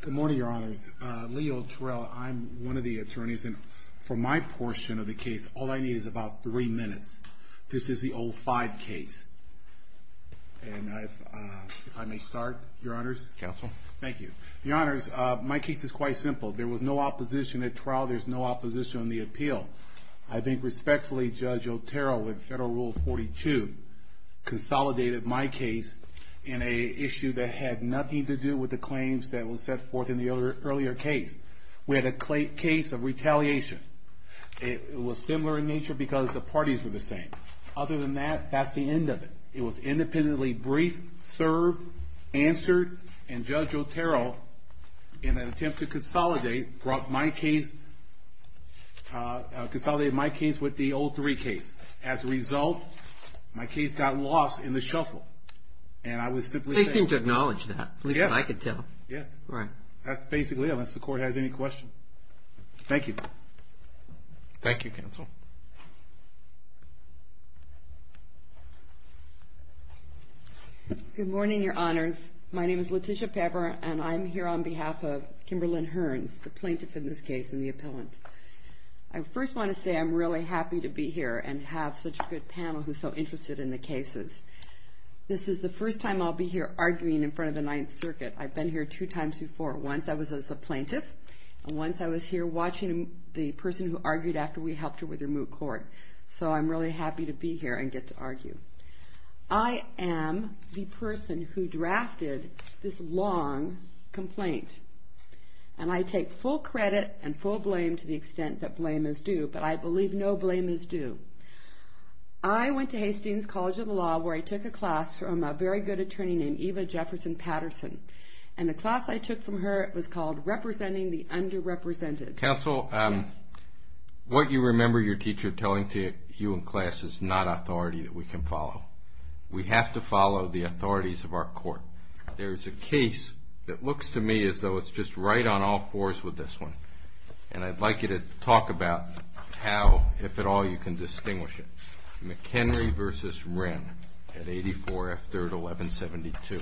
Good morning, your honors. Leo Terrell, I'm one of the attorneys. And for my portion of the case, all I need is about three minutes. This is the 05 case. And if I may start, your honors. Counsel. Thank you. Your honors, my case is quite simple. There was no opposition at trial. There's no opposition on the appeal. I think respectfully, Judge Otero, with federal rule 42, consolidated my case in an issue that had nothing to do with the claims that were set forth in the earlier case. We had a case of retaliation. It was similar in nature because the parties were the same. Other than that, that's the end of it. It was independently briefed, served, answered. And Judge Otero, in an attempt to consolidate, brought my case, consolidated my case with the 03 case. And I was simply saying- They seem to acknowledge that, at least I could tell. Yes. Right. That's basically it, unless the court has any questions. Thank you. Thank you, counsel. Good morning, your honors. My name is Letitia Pepper, and I'm here on behalf of Kimberlyn Hearns, the plaintiff in this case and the appellant. I first want to say I'm really happy to be here and have such a good panel who's so interested in the cases. This is the first time I'll be here arguing in front of the Ninth Circuit. I've been here two times before. Once I was as a plaintiff, and once I was here watching the person who argued after we helped her with her moot court. So I'm really happy to be here and get to argue. I am the person who drafted this long complaint. And I take full credit and full blame to the extent that blame is due, but I believe no blame is due. I went to Hastings College of Law where I took a class from a very good attorney named Eva Jefferson Patterson. And the class I took from her was called Representing the Underrepresented. Counsel, what you remember your teacher telling to you in class is not authority that we can follow. We have to follow the authorities of our court. There is a case that looks to me as though it's just right on all fours with this one. And I'd like you to talk about how, if at all, you can distinguish it. McHenry versus Wren at 84 F3rd 1172.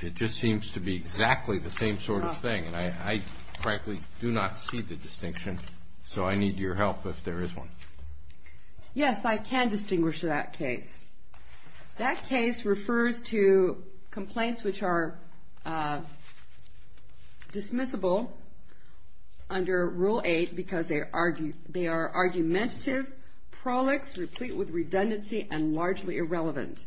It just seems to be exactly the same sort of thing. And I, frankly, do not see the distinction. So I need your help if there is one. Yes, I can distinguish that case. That case refers to complaints which are dismissible under Rule 8 because they are argumentative, prolix, replete with redundancy, and largely irrelevant.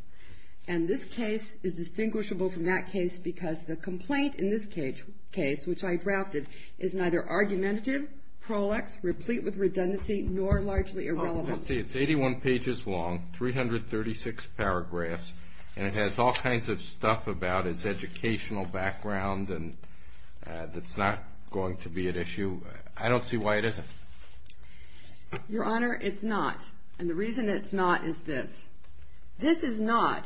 And this case is distinguishable from that case because the complaint in this case, which I drafted, is neither argumentative, prolix, replete with redundancy, nor largely irrelevant. It's 81 pages long, 336 paragraphs, and it has all kinds of stuff about its educational background that's not going to be at issue. I don't see why it isn't. Your Honor, it's not. And the reason it's not is this. This is not,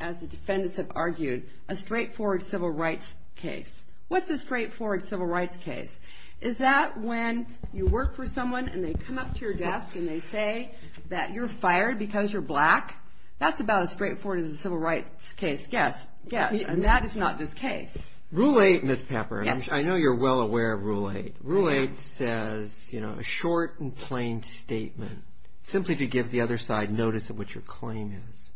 as the defendants have argued, a straightforward civil rights case. What's a straightforward civil rights case? Is that when you work for someone and they come up to your desk and they say that you're fired because you're black? That's about as straightforward as a civil rights case. Yes, yes. And that is not this case. Rule 8, Ms. Pepper. I know you're well aware of Rule 8. Rule 8 says a short and plain statement simply to give the other side notice of what your claim is.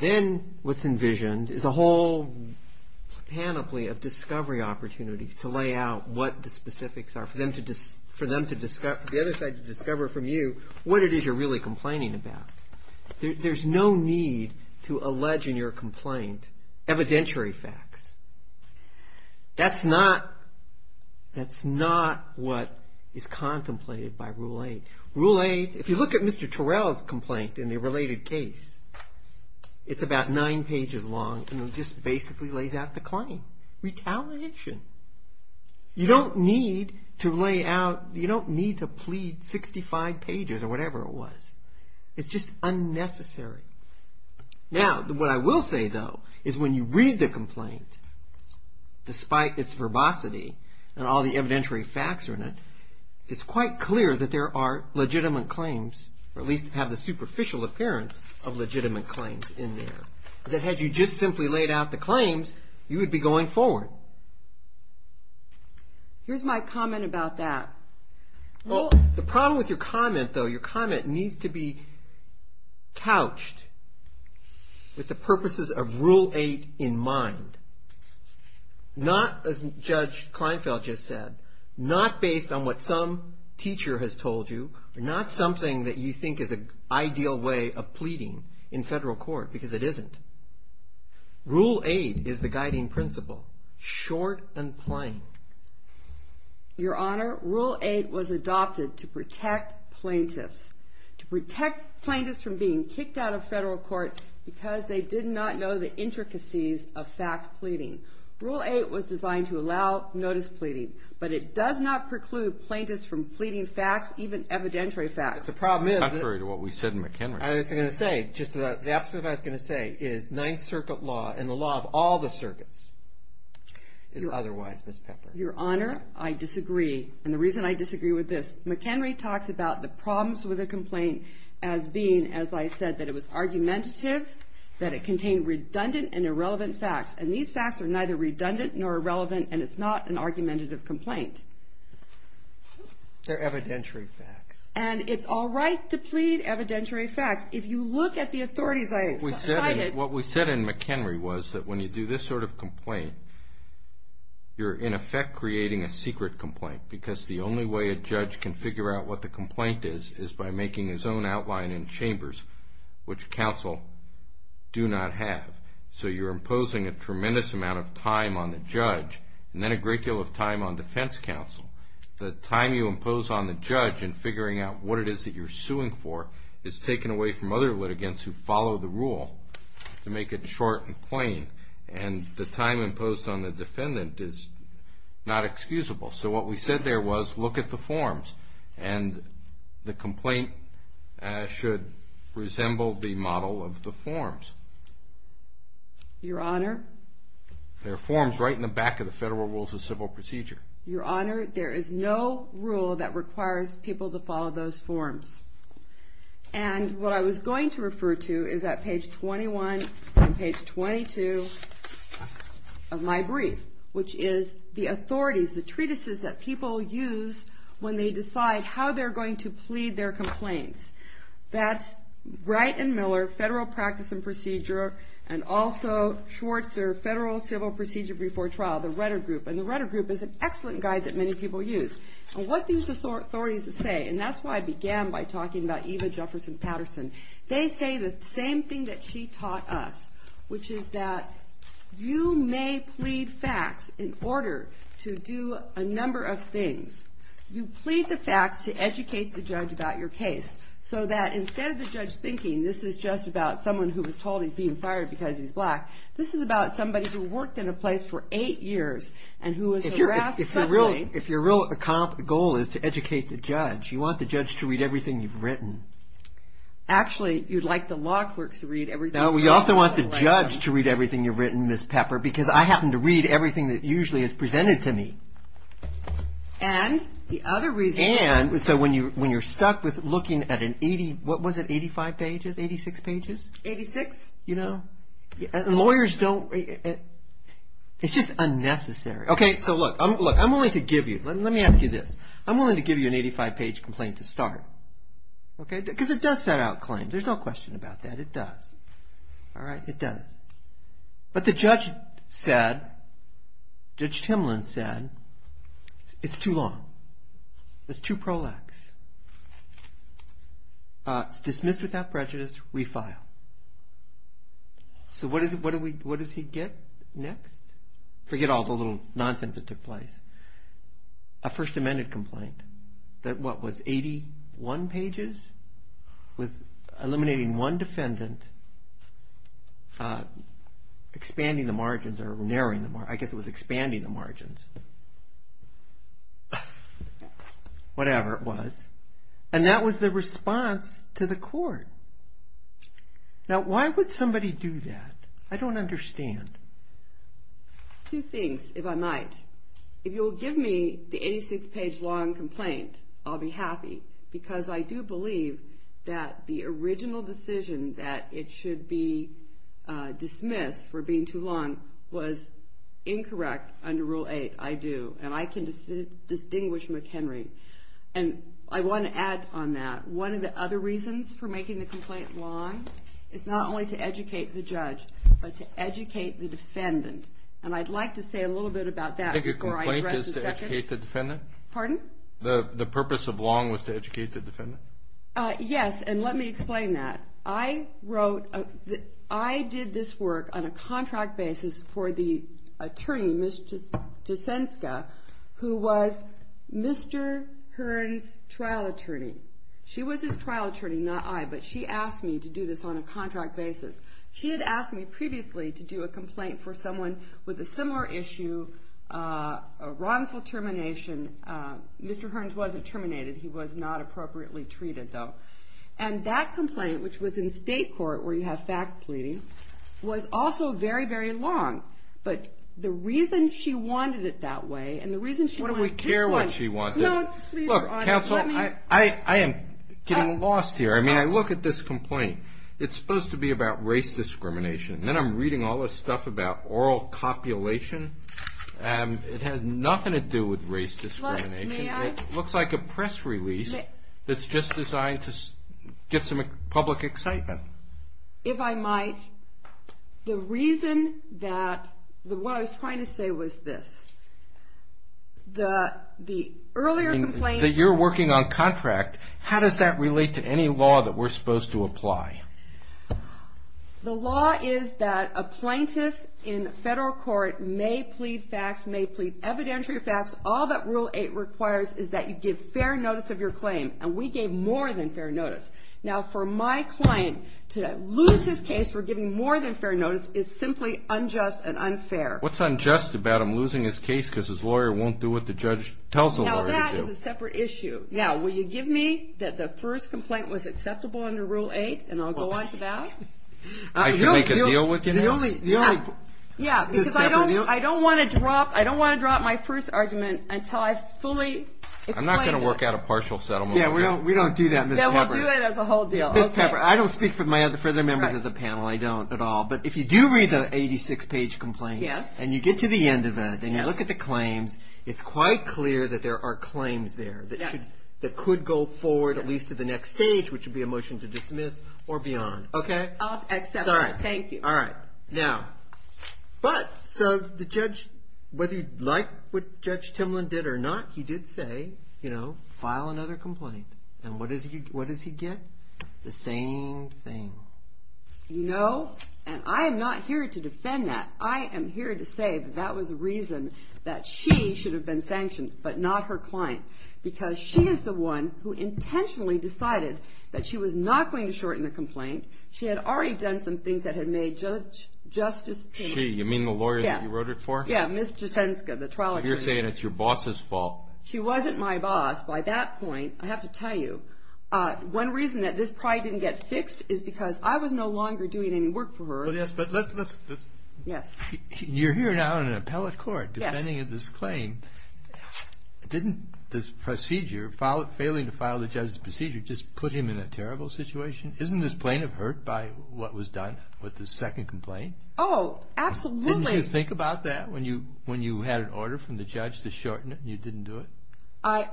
Then what's envisioned is a whole panoply of discovery opportunities to lay out what the specifics are for the other side to discover from you what it is you're really There's no need to allege in your complaint evidentiary facts. That's not what is contemplated by Rule 8. Rule 8, if you look at Mr. Terrell's complaint in the related case, it's about nine pages long and it just basically lays out the claim. Retaliation. You don't need to lay out, you don't need to plead 65 pages or whatever it was. It's just unnecessary. Now, what I will say, though, is when you read the complaint, despite its verbosity and all the evidentiary facts are in it, it's quite clear that there are legitimate claims, or at least have the superficial appearance of legitimate claims in there. That had you just simply laid out the claims, you would be going forward. Here's my comment about that. Well, the problem with your comment, though, your comment needs to be couched with the purposes of Rule 8 in mind. Not, as Judge Kleinfeld just said, not based on what some teacher has told you, not something that you think is an ideal way of pleading in federal court, because it isn't. Rule 8 is the guiding principle, short and plain. Your Honor, Rule 8 was adopted to protect plaintiffs, to protect plaintiffs from being kicked out of federal court because they did not know the intricacies of fact pleading. Rule 8 was designed to allow notice pleading, but it does not preclude plaintiffs from pleading facts, even evidentiary facts. The problem is that the opposite of what I was going to say is Ninth Circuit law, and the law of all the circuits, is otherwise, Ms. Pepper. Your Honor, I disagree. And the reason I disagree with this, McHenry talks about the problems with a complaint as being, as I said, that it was argumentative, that it contained redundant and irrelevant facts. And these facts are neither redundant nor irrelevant, and it's not an argumentative complaint. They're evidentiary facts. And it's all right to plead evidentiary facts. If you look at the authorities I cited. What we said in McHenry was that when you do this sort of complaint, you're, in effect, creating a secret complaint. Because the only way a judge can figure out what the complaint is is by making his own outline in chambers, which counsel do not have. So you're imposing a tremendous amount of time on the judge, and then a great deal of time on defense counsel. The time you impose on the judge in figuring out what it is that you're suing for is taken away from other litigants who follow the rule to make it short and plain. And the time imposed on the defendant is not excusable. So what we said there was, look at the forms. And the complaint should resemble the model of the forms. Your Honor. There are forms right in the back of the Federal Rules of Civil Procedure. Your Honor, there is no rule that requires people to follow those forms. And what I was going to refer to is at page 21 and page 22 of my brief, which is the authorities, the treatises that people use when they decide how they're going to plead their complaints. That's Wright and Miller, Federal Practice and Procedure, and also Schwartzer, Federal Civil Procedure before Trial, the Rutter Group. And the Rutter Group is an excellent guide that many people use. And what do these authorities say? And that's why I began by talking about Eva Jefferson Patterson. They say the same thing that she taught us, which is that you may plead facts in order to do a number of things. You plead the facts to educate the judge about your case. So that instead of the judge thinking this is just about someone who was told he's being fired because he's black, this is about somebody who worked in a place for eight years and who was harassed suddenly. If your real goal is to educate the judge, you want the judge to read everything you've written. Actually, you'd like the law clerks to read everything you've written. No, we also want the judge to read everything you've written, Ms. Pepper, because I happen to read everything that usually is presented to me. And the other reason is that when you're stuck with looking at an 80, what was it, 85 pages, 86 pages? 86. You know, lawyers don't, it's just unnecessary. OK, so look, I'm willing to give you, let me ask you this. I'm willing to give you an 85-page complaint to start. OK, because it does set out claims. There's no question about that. It does. All right, it does. But the judge said, Judge Timlin said, it's too long. It's too prolax. Dismissed without prejudice, we file. So what does he get next? Forget all the little nonsense that took place. A First Amendment complaint that, what, was 81 pages? With eliminating one defendant, expanding the margins, or narrowing the margins, I guess it was expanding the margins, whatever it was. And that was the response to the court. Now, why would somebody do that? I don't understand. Two things, if I might. If you'll give me the 86-page long complaint, I'll be happy, because I do believe that the original decision that it should be dismissed for being too long was incorrect under Rule 8. I do. And I can distinguish McHenry. And I want to add on that. One of the other reasons for making the complaint long is not only to educate the judge, but to educate the defendant. And I'd like to say a little bit about that before I address the second. I think a complaint is to educate the defendant? Pardon? The purpose of long was to educate the defendant? Yes, and let me explain that. I wrote, I did this work on a contract basis for the attorney, Ms. Jasenska, who was Mr. Hearn's trial attorney. She was his trial attorney, not I, but she asked me to do this on a contract basis. She had asked me previously to do a complaint for someone with a similar issue, a wrongful termination. Mr. Hearns wasn't terminated. He was not appropriately treated, though. And that complaint, which was in state court, where you have fact pleading, was also very, very long. But the reason she wanted it that way, and the reason she wanted this one. What do we care what she wanted? No, please, Your Honor, let me. Look, counsel, I am getting lost here. I mean, I look at this complaint. It's supposed to be about race discrimination. And then I'm reading all this stuff about oral copulation. And it has nothing to do with race discrimination. Look, may I? It looks like a press release that's just designed to get some public excitement. If I might, the reason that, what I was trying to say was this. The earlier complaints. That you're working on contract, how does that relate to any law that we're supposed to apply? The law is that a plaintiff in federal court may plead facts, may plead evidentiary facts. All that Rule 8 requires is that you give fair notice of your claim. And we gave more than fair notice. Now, for my client to lose his case for giving more than fair notice is simply unjust and unfair. What's unjust about him losing his case because his lawyer won't do what the judge tells the lawyer to do? Now, that is a separate issue. Now, will you give me that the first complaint was acceptable under Rule 8? And I'll go on to that? I should make a deal with you now? Yeah, because I don't want to drop my first argument until I've fully explained it. I'm not going to work out a partial settlement. We don't do that, Ms. Pepper. Then we'll do it as a whole deal. Ms. Pepper, I don't speak for my other further members of the panel. I don't at all. But if you do read the 86-page complaint, and you get to the end of it, and you look at the claims, it's quite clear that there are claims there that could go forward, at least to the next stage, which would be a motion to dismiss or beyond. OK? I'll accept that. Thank you. All right. Now, so the judge, whether he liked what Judge Timlin did or not, he did say, file another complaint. And what does he get? The same thing. You know, and I am not here to defend that. I am here to say that that was a reason that she should have been sanctioned, but not her client. Because she is the one who intentionally decided that she was not going to shorten the complaint. She had already done some things that had made Justice Timlin. She? You mean the lawyer that you wrote it for? Yeah, Ms. Jasenska, the trial attorney. So you're saying it's your boss's fault. She wasn't my boss by that point, I have to tell you. One reason that this probably didn't get fixed is because I was no longer doing any work for her. Well, yes, but let's just. Yes. You're here now in an appellate court defending this claim. Didn't this procedure, failing to file the judge's procedure, just put him in a terrible situation? Isn't this plaintiff hurt by what was done with the second complaint? Oh, absolutely. Didn't you think about that when you had an order from the judge to shorten it and you didn't do it?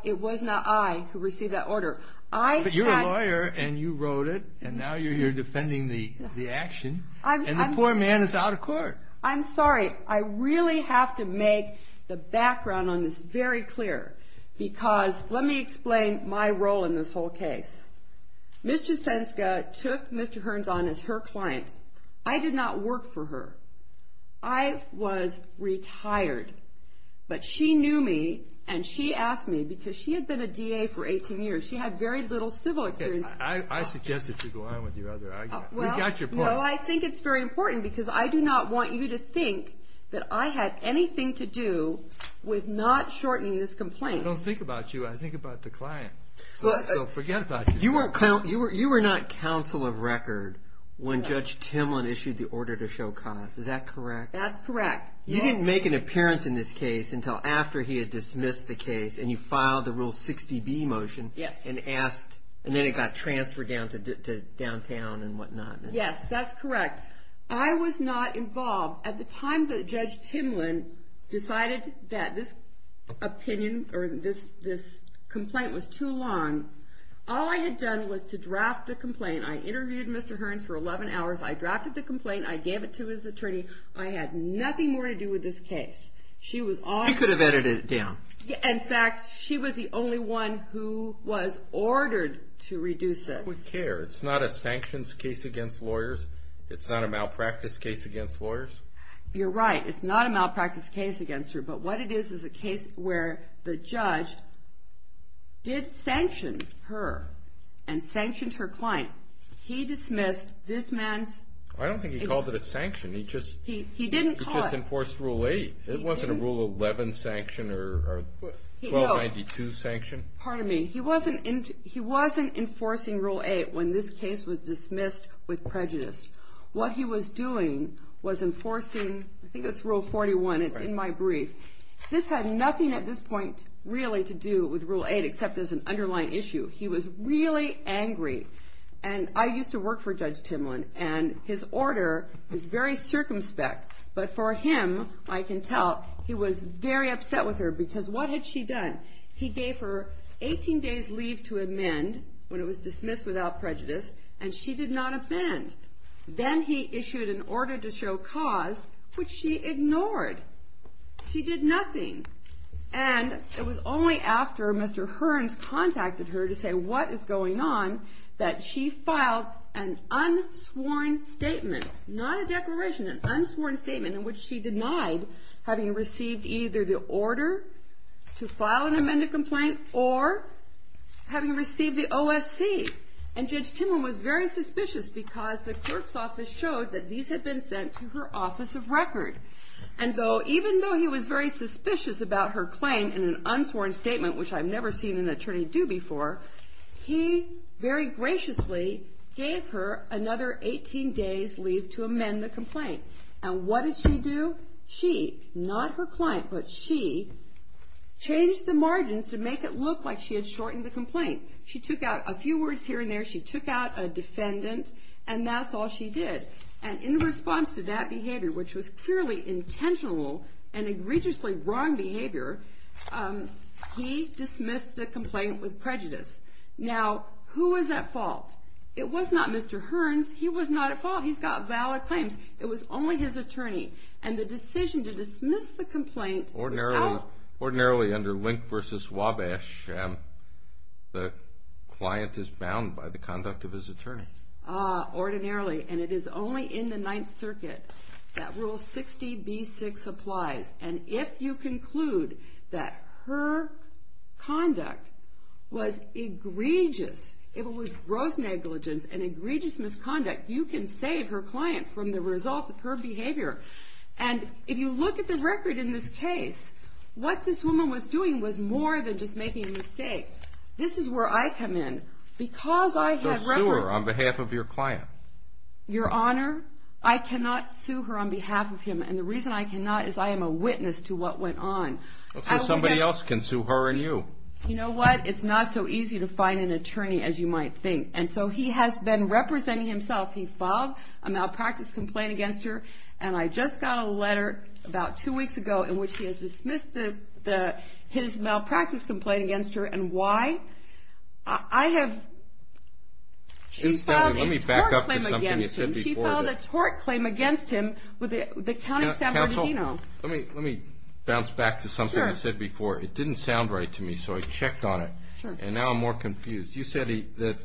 It was not I who received that order. I had. But you're a lawyer, and you wrote it, and now you're here defending the action. And the poor man is out of court. I'm sorry. I really have to make the background on this very clear, because let me explain my role in this whole case. Ms. Jasenska took Mr. Hearns on as her client. I did not work for her. I was retired. But she knew me, and she asked me, because she had been a DA for 18 years. She had very little civil experience. I suggest that you go on with your other argument. We got your point. No, I think it's very important, because I do not want you to think that I had anything to do with not shortening this complaint. I don't think about you. I think about the client. So forget about your complaint. You were not counsel of record when Judge Timlin issued the order to show cause. Is that correct? That's correct. You didn't make an appearance in this case until after he had dismissed the case, and you filed the Rule 60B motion and asked, and then it got transferred down to downtown and whatnot. Yes, that's correct. I was not involved. At the time that Judge Timlin decided that this opinion, or this complaint was too long, all I had done was to draft the complaint. I interviewed Mr. Hearns for 11 hours. I drafted the complaint. I gave it to his attorney. I had nothing more to do with this case. She was all I had. She could have edited it down. In fact, she was the only one who was ordered to reduce it. I don't care. It's not a sanctions case against lawyers. It's not a malpractice case against lawyers. You're right. It's not a malpractice case against her. But what it is is a case where the judge did sanction her and sanctioned her client. He dismissed this man's. I don't think he called it a sanction. He didn't call it. He just enforced Rule 8. It wasn't a Rule 11 sanction or 1292 sanction. Pardon me. He wasn't enforcing Rule 8 when this case was dismissed with prejudice. What he was doing was enforcing, I think it's Rule 41. It's in my brief. This had nothing at this point really to do with Rule 8 except as an underlying issue. He was really angry. And I used to work for Judge Timlin. And his order is very circumspect. But for him, I can tell, he was very upset with her. Because what had she done? He gave her 18 days leave to amend when it was dismissed without prejudice. And she did not amend. Then he issued an order to show cause, which she ignored. She did nothing. And it was only after Mr. Hearns contacted her to say what is going on that she filed an unsworn statement, not a declaration, an unsworn statement in which she denied having received either the order to file an amended complaint or having received the OSC. And Judge Timlin was very suspicious because the clerk's office showed that these had been sent to her office of record. And even though he was very suspicious about her claim in an unsworn statement, which I've never seen an attorney do before, he very graciously gave her another 18 days leave to amend the complaint. And what did she do? She, not her client, but she changed the margins to make it look like she had shortened the complaint. She took out a few words here and there. She took out a defendant. And that's all she did. And in response to that behavior, which was clearly intentional and egregiously wrong behavior, he dismissed the complaint with prejudice. Now, who was at fault? It was not Mr. Hearns. He was not at fault. He's got valid claims. It was only his attorney. And the decision to dismiss the complaint without- Client is bound by the conduct of his attorney. Ordinarily. And it is only in the Ninth Circuit that Rule 60B6 applies. And if you conclude that her conduct was egregious, it was gross negligence and egregious misconduct, you can save her client from the results of her behavior. And if you look at the record in this case, what this woman was doing was more than just making a mistake. This is where I come in. Because I have- So sue her on behalf of your client. Your Honor, I cannot sue her on behalf of him. And the reason I cannot is I am a witness to what went on. So somebody else can sue her and you. You know what? It's not so easy to find an attorney as you might think. And so he has been representing himself. He filed a malpractice complaint against her. And I just got a letter about two weeks ago in which he has dismissed his malpractice complaint against her and why. I have- Let me back up to something you said before. She filed a tort claim against him with the County of San Bernardino. Let me bounce back to something you said before. It didn't sound right to me, so I checked on it. And now I'm more confused. You said that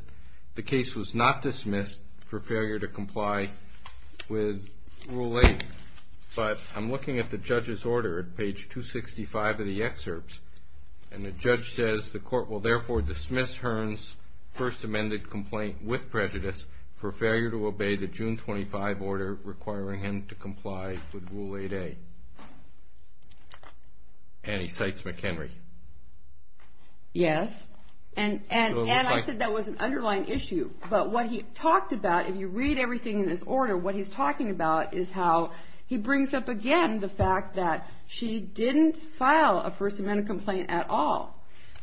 the case was not dismissed for failure to comply with Rule 8. But I'm looking at the judge's order at page 265 of the excerpts. And the judge says, the court will therefore dismiss Hearn's first amended complaint with prejudice for failure to obey the June 25 order requiring him to comply with Rule 8A. And he cites McHenry. Yes. And I said that was an underlying issue. But what he talked about, if you read everything in his order, what he's talking about is how he brings up again the fact that she didn't file a first amended complaint at all,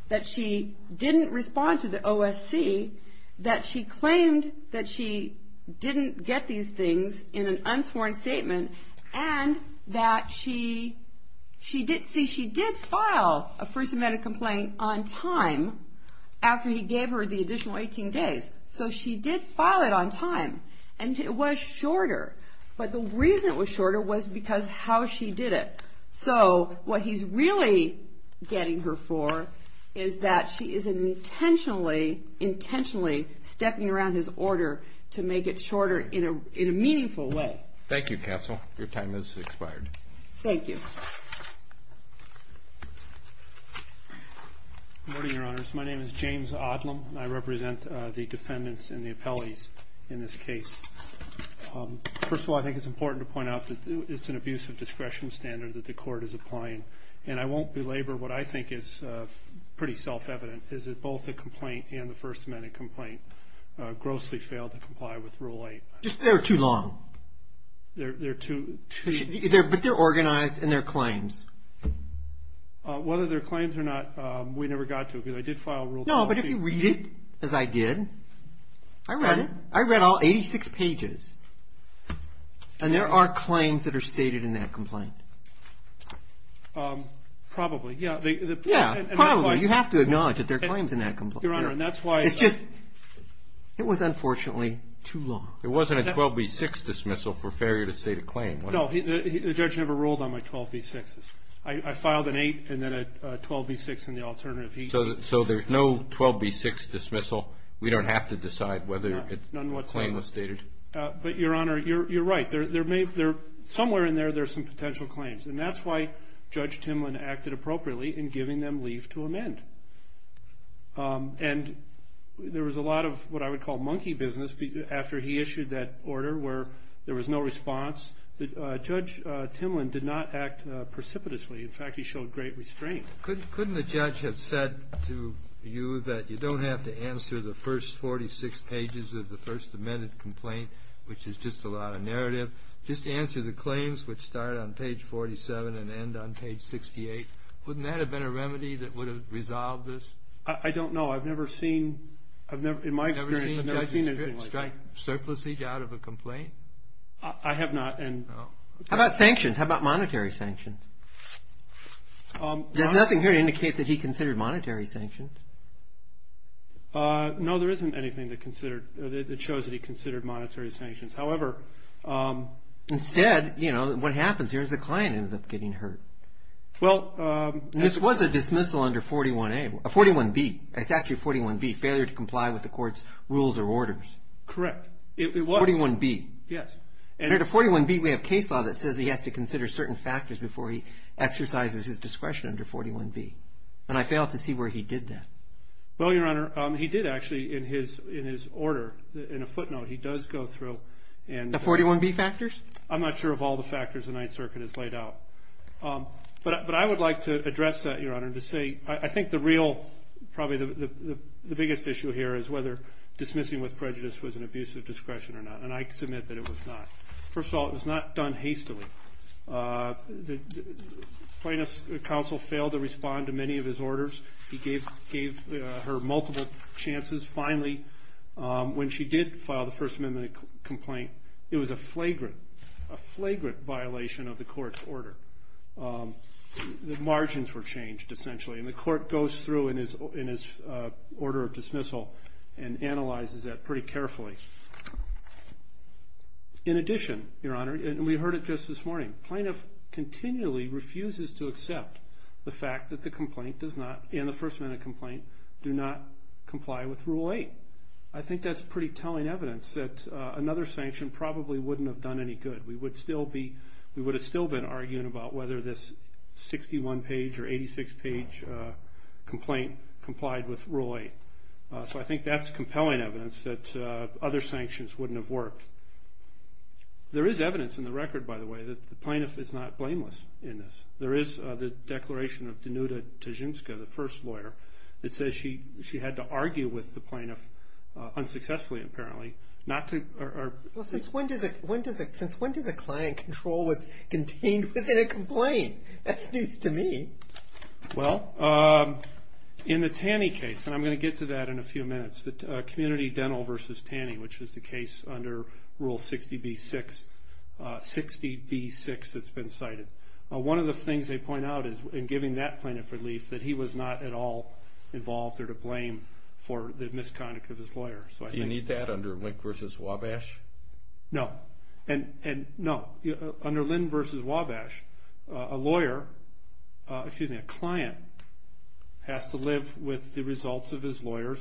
that she didn't respond to the OSC, that she claimed that she didn't get these things in an unsworn statement, and that she did file a first amended complaint on time after he gave her the additional 18 days. So she did file it on time. And it was shorter. But the reason it was shorter was because how she did it. So what he's really getting her for is that she is intentionally stepping around his order to make it shorter in a meaningful way. Thank you, counsel. Your time has expired. Thank you. Good morning, your honors. My name is James Odlem, and I represent the defendants and the appellees in this case. First of all, I think it's important to point out that it's an abuse of discretion standard that the court is applying. And I won't belabor what I think is pretty self-evident, is that both the complaint and the first amended complaint grossly failed to comply with Rule 8. Just they're too long. They're too long. But they're organized in their claims. Whether they're claims or not, we never got to it. Because I did file Rule 8. No, but if you read it, as I did, I read it. I read all 86 pages. And there are claims that are stated in that complaint. Probably, yeah. Yeah, probably. You have to acknowledge that there are claims in that. It's just, it was unfortunately too long. It wasn't a 12B6 dismissal for failure to state a claim. No, the judge never ruled on my 12B6s. I filed an 8 and then a 12B6 in the alternative. So there's no 12B6 dismissal. We don't have to decide whether a claim was stated. But Your Honor, you're right. Somewhere in there, there's some potential claims. And that's why Judge Timlin acted appropriately in giving them leave to amend. And there was a lot of what I would call monkey business after he issued that order where there was no response. Judge Timlin did not act precipitously. In fact, he showed great restraint. Couldn't the judge have said to you that you don't have to answer the first 46 pages of the First Amendment complaint, which is just a lot of narrative? Just answer the claims, which start on page 47 and end on page 68. Wouldn't that have been a remedy that would have resolved this? I don't know. I've never seen, in my experience, I've never seen anything like that. Did you strike surpluses out of a complaint? I have not. No. How about sanctions? How about monetary sanctions? There's nothing here that indicates that he considered monetary sanctions. No, there isn't anything that shows that he considered monetary sanctions. However, instead, what happens here is the client ends up getting hurt. This was a dismissal under 41A, 41B. It's actually 41B, failure to comply with the court's rules or orders. Correct. It was. 41B. Yes. Under 41B, we have case law that says he has to consider certain factors before he exercises his discretion under 41B. And I failed to see where he did that. Well, Your Honor, he did actually, in his order, in a footnote, he does go through and- The 41B factors? I'm not sure of all the factors the Ninth Circuit has laid out. But I would like to address that, Your Honor, to say, I think the real, probably the biggest issue here is whether dismissing with prejudice was an abuse of discretion or not. And I submit that it was not. First of all, it was not done hastily. Plaintiff's counsel failed to respond to many of his orders. He gave her multiple chances. Finally, when she did file the First Amendment complaint, it was a flagrant, a flagrant violation of the court's order. The margins were changed, essentially. And the court goes through in his order of dismissal and analyzes that pretty carefully. In addition, Your Honor, and we heard it just this morning, plaintiff continually refuses to accept the fact that the complaint does not, in the First Amendment complaint, do not comply with Rule 8. I think that's pretty telling evidence that another sanction probably wouldn't have done any good. We would still be, we would have still been arguing about whether this 61-page or 86-page complaint complied with Rule 8. So I think that's compelling evidence that other sanctions wouldn't have worked. There is evidence in the record, by the way, that the plaintiff is not blameless in this. There is the declaration of Dinuta Tijinska, the first lawyer, that says she had to argue with the plaintiff, unsuccessfully apparently, not to, or. Well, since when does a client control what's contained within a complaint? That's news to me. Well, in the Taney case, and I'm going to get to that in a few minutes, Community Dental v. Taney, which is the case under Rule 60b-6, 60b-6, it's been cited. One of the things they point out is, in giving that plaintiff relief, that he was not at all involved or to blame for the misconduct of his lawyer. So I think. Do you need that under Link v. Wabash? No, and no. Under Linn v. Wabash, a lawyer, excuse me, a client, has to live with the results of his lawyer's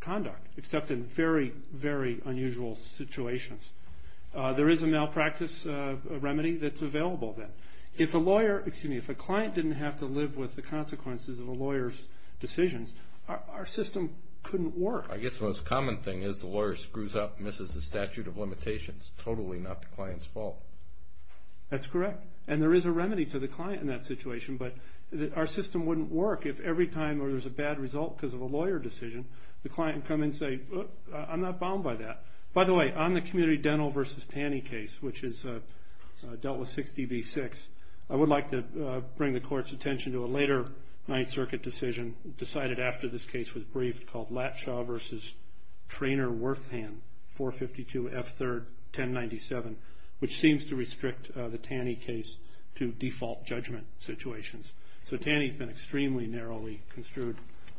conduct, except in very, very unusual situations. There is a malpractice remedy that's available then. If a lawyer, excuse me, if a client didn't have to live with the consequences of a lawyer's decisions, our system couldn't work. I guess the most common thing is the lawyer screws up, misses the statute of limitations. Totally not the client's fault. That's correct, and there is a remedy to the client in that situation, but our system wouldn't work if every time there was a bad result because of a lawyer decision, the client would come and say, I'm not bound by that. By the way, on the Community Dental v. Tanny case, which is dealt with 6db6, I would like to bring the court's attention to a later Ninth Circuit decision, decided after this case was briefed, called Latshaw v. Trainor-Worthan, 452 F. 3rd. 1097, which seems to restrict the Tanny case to default judgment situations. So Tanny's been extremely narrowly construed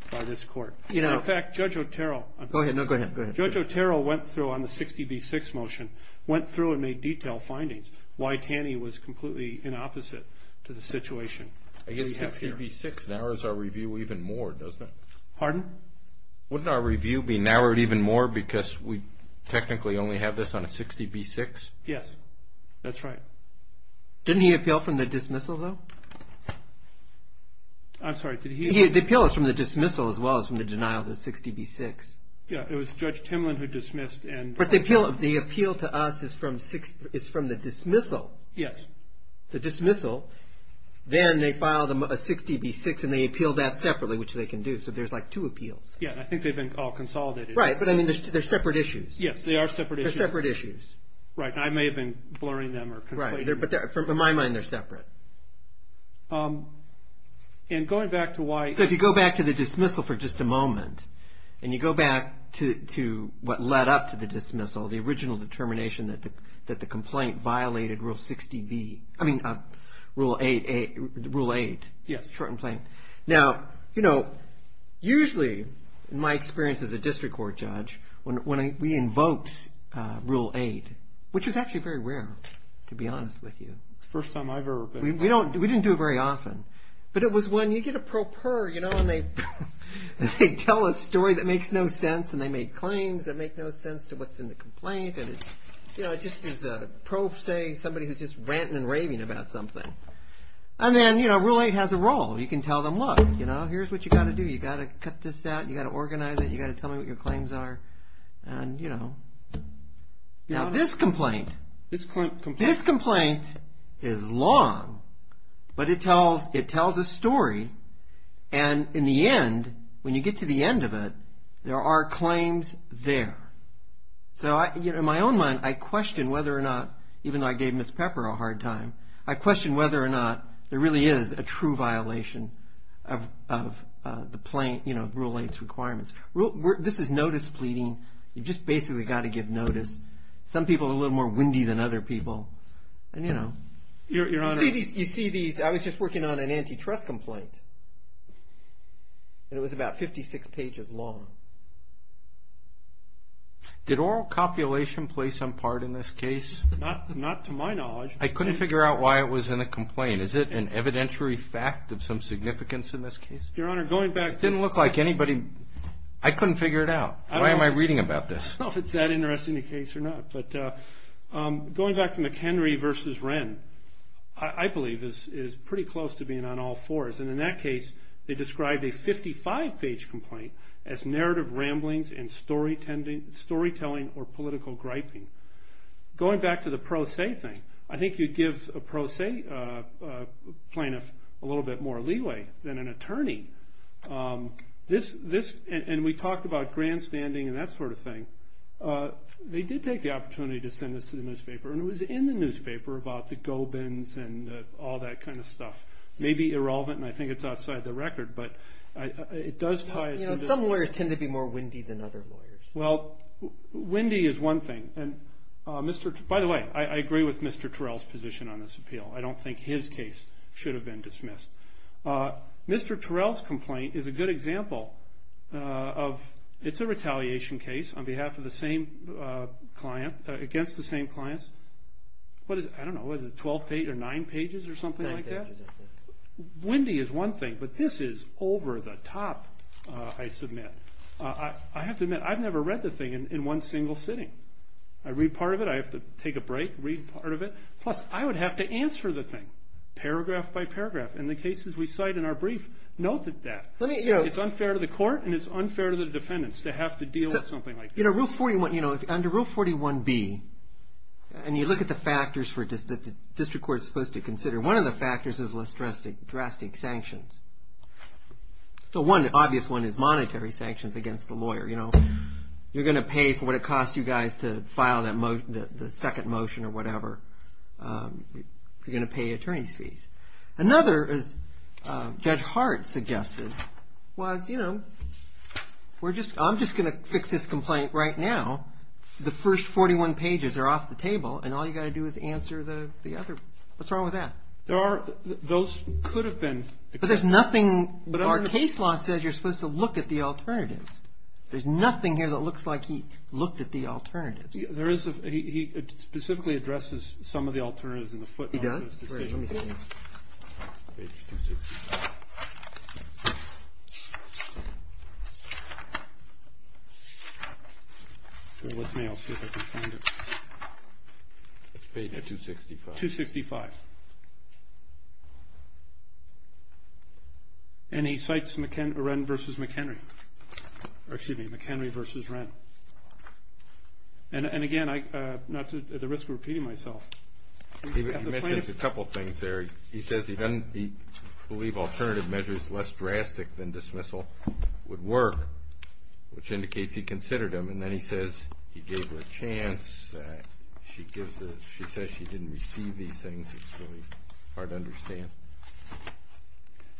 by this court. In fact, Judge Otero. Go ahead, no, go ahead, go ahead. Judge Otero went through on the 6db6 motion, went through and made detailed findings why Tanny was completely in opposite to the situation. I guess 6db6 narrows our review even more, doesn't it? Pardon? Wouldn't our review be narrowed even more because we technically only have this on a 6db6? Yes, that's right. Didn't he appeal from the dismissal, though? I'm sorry, did he? The appeal is from the dismissal as well as from the denial of the 6db6. Yeah, it was Judge Timlin who dismissed and- But the appeal to us is from the dismissal. Yes. The dismissal. Then they filed a 6db6 and they appealed that separately, which they can do, so there's like two appeals. Yeah, I think they've been all consolidated. Right, but I mean, they're separate issues. Yes, they are separate issues. They're separate issues. Right, and I may have been blurring them or- Right, but in my mind, they're separate. And going back to why- So if you go back to the dismissal for just a moment and you go back to what led up to the dismissal, the original determination that the complaint violated Rule 8, short and plain. Now, usually, in my experience as a district court judge, when we invoked Rule 8, which was actually very rare, to be honest with you. First time I've ever been- We didn't do it very often, but it was when you get a pro per, you know, and they tell a story that makes no sense and they made claims that make no sense to what's in the complaint. And it's, you know, it just is a pro se, somebody who's just ranting and raving about something. And then, you know, Rule 8 has a role. You can tell them, look, you know, here's what you got to do. You got to cut this out. You got to organize it. You got to tell me what your claims are. And, you know, now this complaint, this complaint is long, but it tells a story. And in the end, when you get to the end of it, there are claims there. So, you know, in my own mind, I question whether or not, even though I gave Ms. Pepper a hard time, I question whether or not there really is a true violation of the plain, you know, Rule 8's requirements. This is notice pleading. You've just basically got to give notice. Some people are a little more windy than other people. And, you know, you see these, I was just working on an antitrust complaint, and it was about 56 pages long. Did oral copulation play some part in this case? Not to my knowledge. I couldn't figure out why it was in a complaint. Is it an evidentiary fact of some significance in this case? Your Honor, going back. It didn't look like anybody, I couldn't figure it out. Why am I reading about this? I don't know if it's that interesting a case or not, but going back to McHenry versus Wren, I believe is pretty close to being on all fours. And in that case, they described a 55-page complaint as narrative ramblings and storytelling or political griping. Going back to the pro se thing, I think you'd give a pro se plaintiff a little bit more leeway than an attorney. This, and we talked about grandstanding and that sort of thing. They did take the opportunity to send this to the newspaper, and it was in the newspaper about the Gobins and all that kind of stuff. Maybe irrelevant, and I think it's outside the record, but it does tie. Some lawyers tend to be more windy than other lawyers. Well, windy is one thing. And Mr., by the way, I agree with Mr. Terrell's position on this appeal. I don't think his case should have been dismissed. Mr. Terrell's complaint is a good example of, it's a retaliation case on behalf of the same client, against the same clients. What is it, I don't know, is it 12 pages or nine pages or something like that? Windy is one thing, but this is over the top, I submit. I have to admit, I've never read the thing in one single sitting. I read part of it, I have to take a break, read part of it. Plus, I would have to answer the thing, paragraph by paragraph. And the cases we cite in our brief noted that. It's unfair to the court, and it's unfair to the defendants to have to deal with something like that. Under Rule 41B, and you look at the factors that the district court's supposed to consider, one of the factors is drastic sanctions. The one obvious one is monetary sanctions against the lawyer. You're gonna pay for what it costs you guys to file the second motion or whatever. You're gonna pay attorney's fees. Another, as Judge Hart suggested, was, you know, I'm just gonna fix this complaint right now. The first 41 pages are off the table, and all you gotta do is answer the other. What's wrong with that? There are, those could have been. But there's nothing, our case law says you're supposed to look at the alternatives. There's nothing here that looks like he looked at the alternatives. There is, he specifically addresses some of the alternatives in the footnotes. He does? Let me see. Page 265. Go with me, I'll see if I can find it. Page 265. 265. And he cites Ren v. McHenry. Or excuse me, McHenry v. Ren. And again, not to, at the risk of repeating myself. He mentions a couple things there. He says he doesn't believe alternative measures less drastic than dismissal would work, which indicates he considered them. And then he says he gave her a chance. She gives the, she says she didn't receive these things. It's really hard to understand.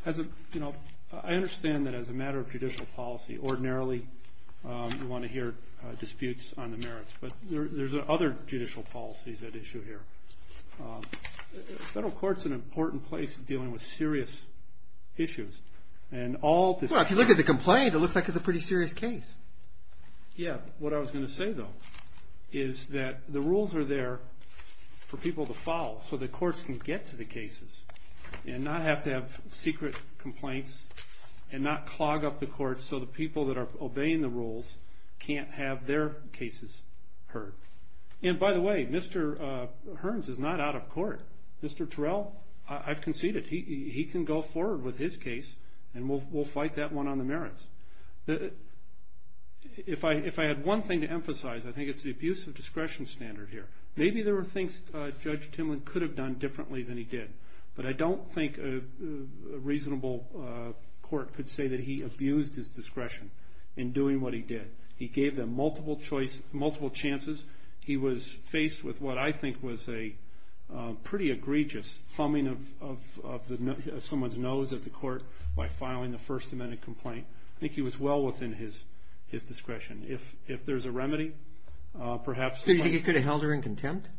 As a, you know, I understand that as a matter of judicial policy, ordinarily you wanna hear disputes on the merits. But there's other judicial policies at issue here. Federal court's an important place in dealing with serious issues. And all the- Well, if you look at the complaint, it looks like it's a pretty serious case. Yeah, what I was gonna say, though, is that the rules are there for people to follow so the courts can get to the cases and not have to have secret complaints and not clog up the courts so the people that are obeying the rules can't have their cases heard. And by the way, Mr. Hearns is not out of court. Mr. Terrell, I've conceded. He can go forward with his case and we'll fight that one on the merits. If I had one thing to emphasize, I think it's the abuse of discretion standard here. Maybe there were things Judge Timlin could have done differently than he did. But I don't think a reasonable court could say that he abused his discretion in doing what he did. He gave them multiple choices, multiple chances. He was faced with what I think was a pretty egregious thumbing of someone's nose at the court by filing the First Amendment complaint. I think he was well within his discretion. If there's a remedy, perhaps- So you think it could have held her in contempt?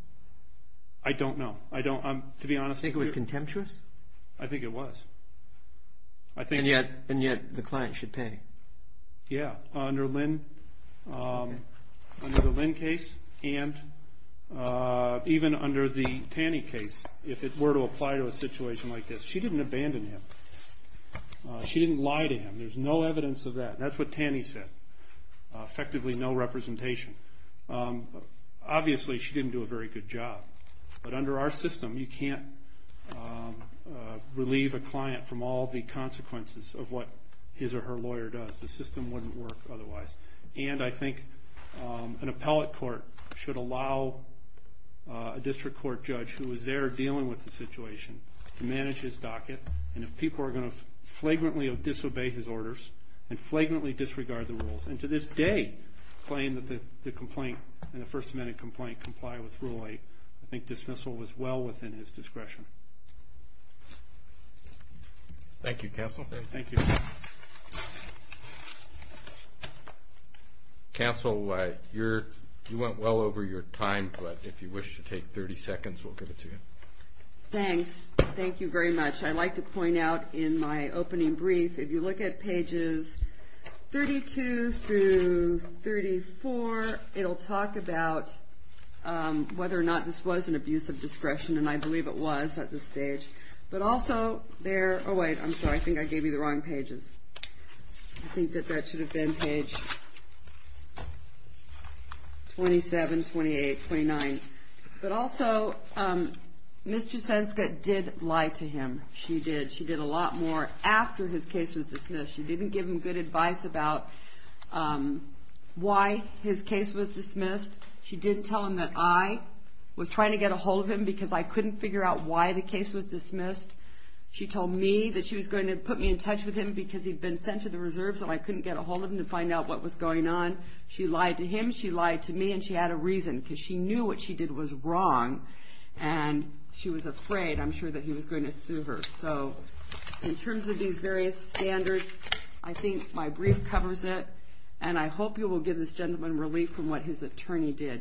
I don't know. To be honest- You think it was contemptuous? I think it was. I think- And yet, the client should pay. Yeah, under the Lynn case, and even under the Tanny case, if it were to apply to a situation like this, she didn't abandon him. She didn't lie to him. There's no evidence of that. That's what Tanny said. Effectively, no representation. Obviously, she didn't do a very good job. But under our system, you can't relieve a client from all the consequences of what his or her lawyer does. The system wouldn't work otherwise. And I think an appellate court should allow a district court judge who was there dealing with the situation to manage his docket. And if people are gonna flagrantly disobey his orders and flagrantly disregard the rules, and to this day, claim that the complaint and the First Amendment complaint comply with Rule 8, I think dismissal was well within his discretion. Thank you, counsel. Thank you. Counsel, you went well over your time, but if you wish to take 30 seconds, we'll give it to you. Thanks. Thank you very much. I'd like to point out in my opening brief, if you look at pages 32 through 34, it'll talk about whether or not this was an abuse of discretion, and I believe it was. I'm gonna set the stage. But also, there, oh wait, I'm sorry. I think I gave you the wrong pages. I think that that should have been page 27, 28, 29. But also, Ms. Jasenska did lie to him. She did. She did a lot more after his case was dismissed. She didn't give him good advice about why his case was dismissed. She didn't tell him that I was trying to get ahold of him because I couldn't figure out why the case was dismissed. She told me that she was going to put me in touch with him because he'd been sent to the reserves and I couldn't get ahold of him to find out what was going on. She lied to him, she lied to me, and she had a reason, because she knew what she did was wrong. And she was afraid, I'm sure, that he was going to sue her. So in terms of these various standards, I think my brief covers it. And I hope you will give this gentleman relief from what his attorney did,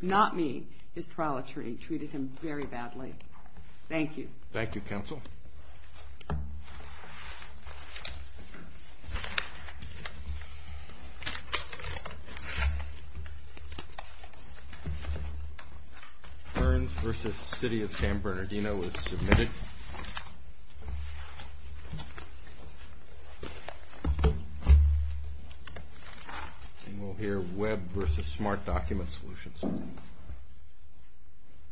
not me, his trial attorney treated him very badly. Thank you. Thank you, counsel. Burns v. City of San Bernardino is submitted. And we'll hear Webb v. Smart Document Solutions. Thank you.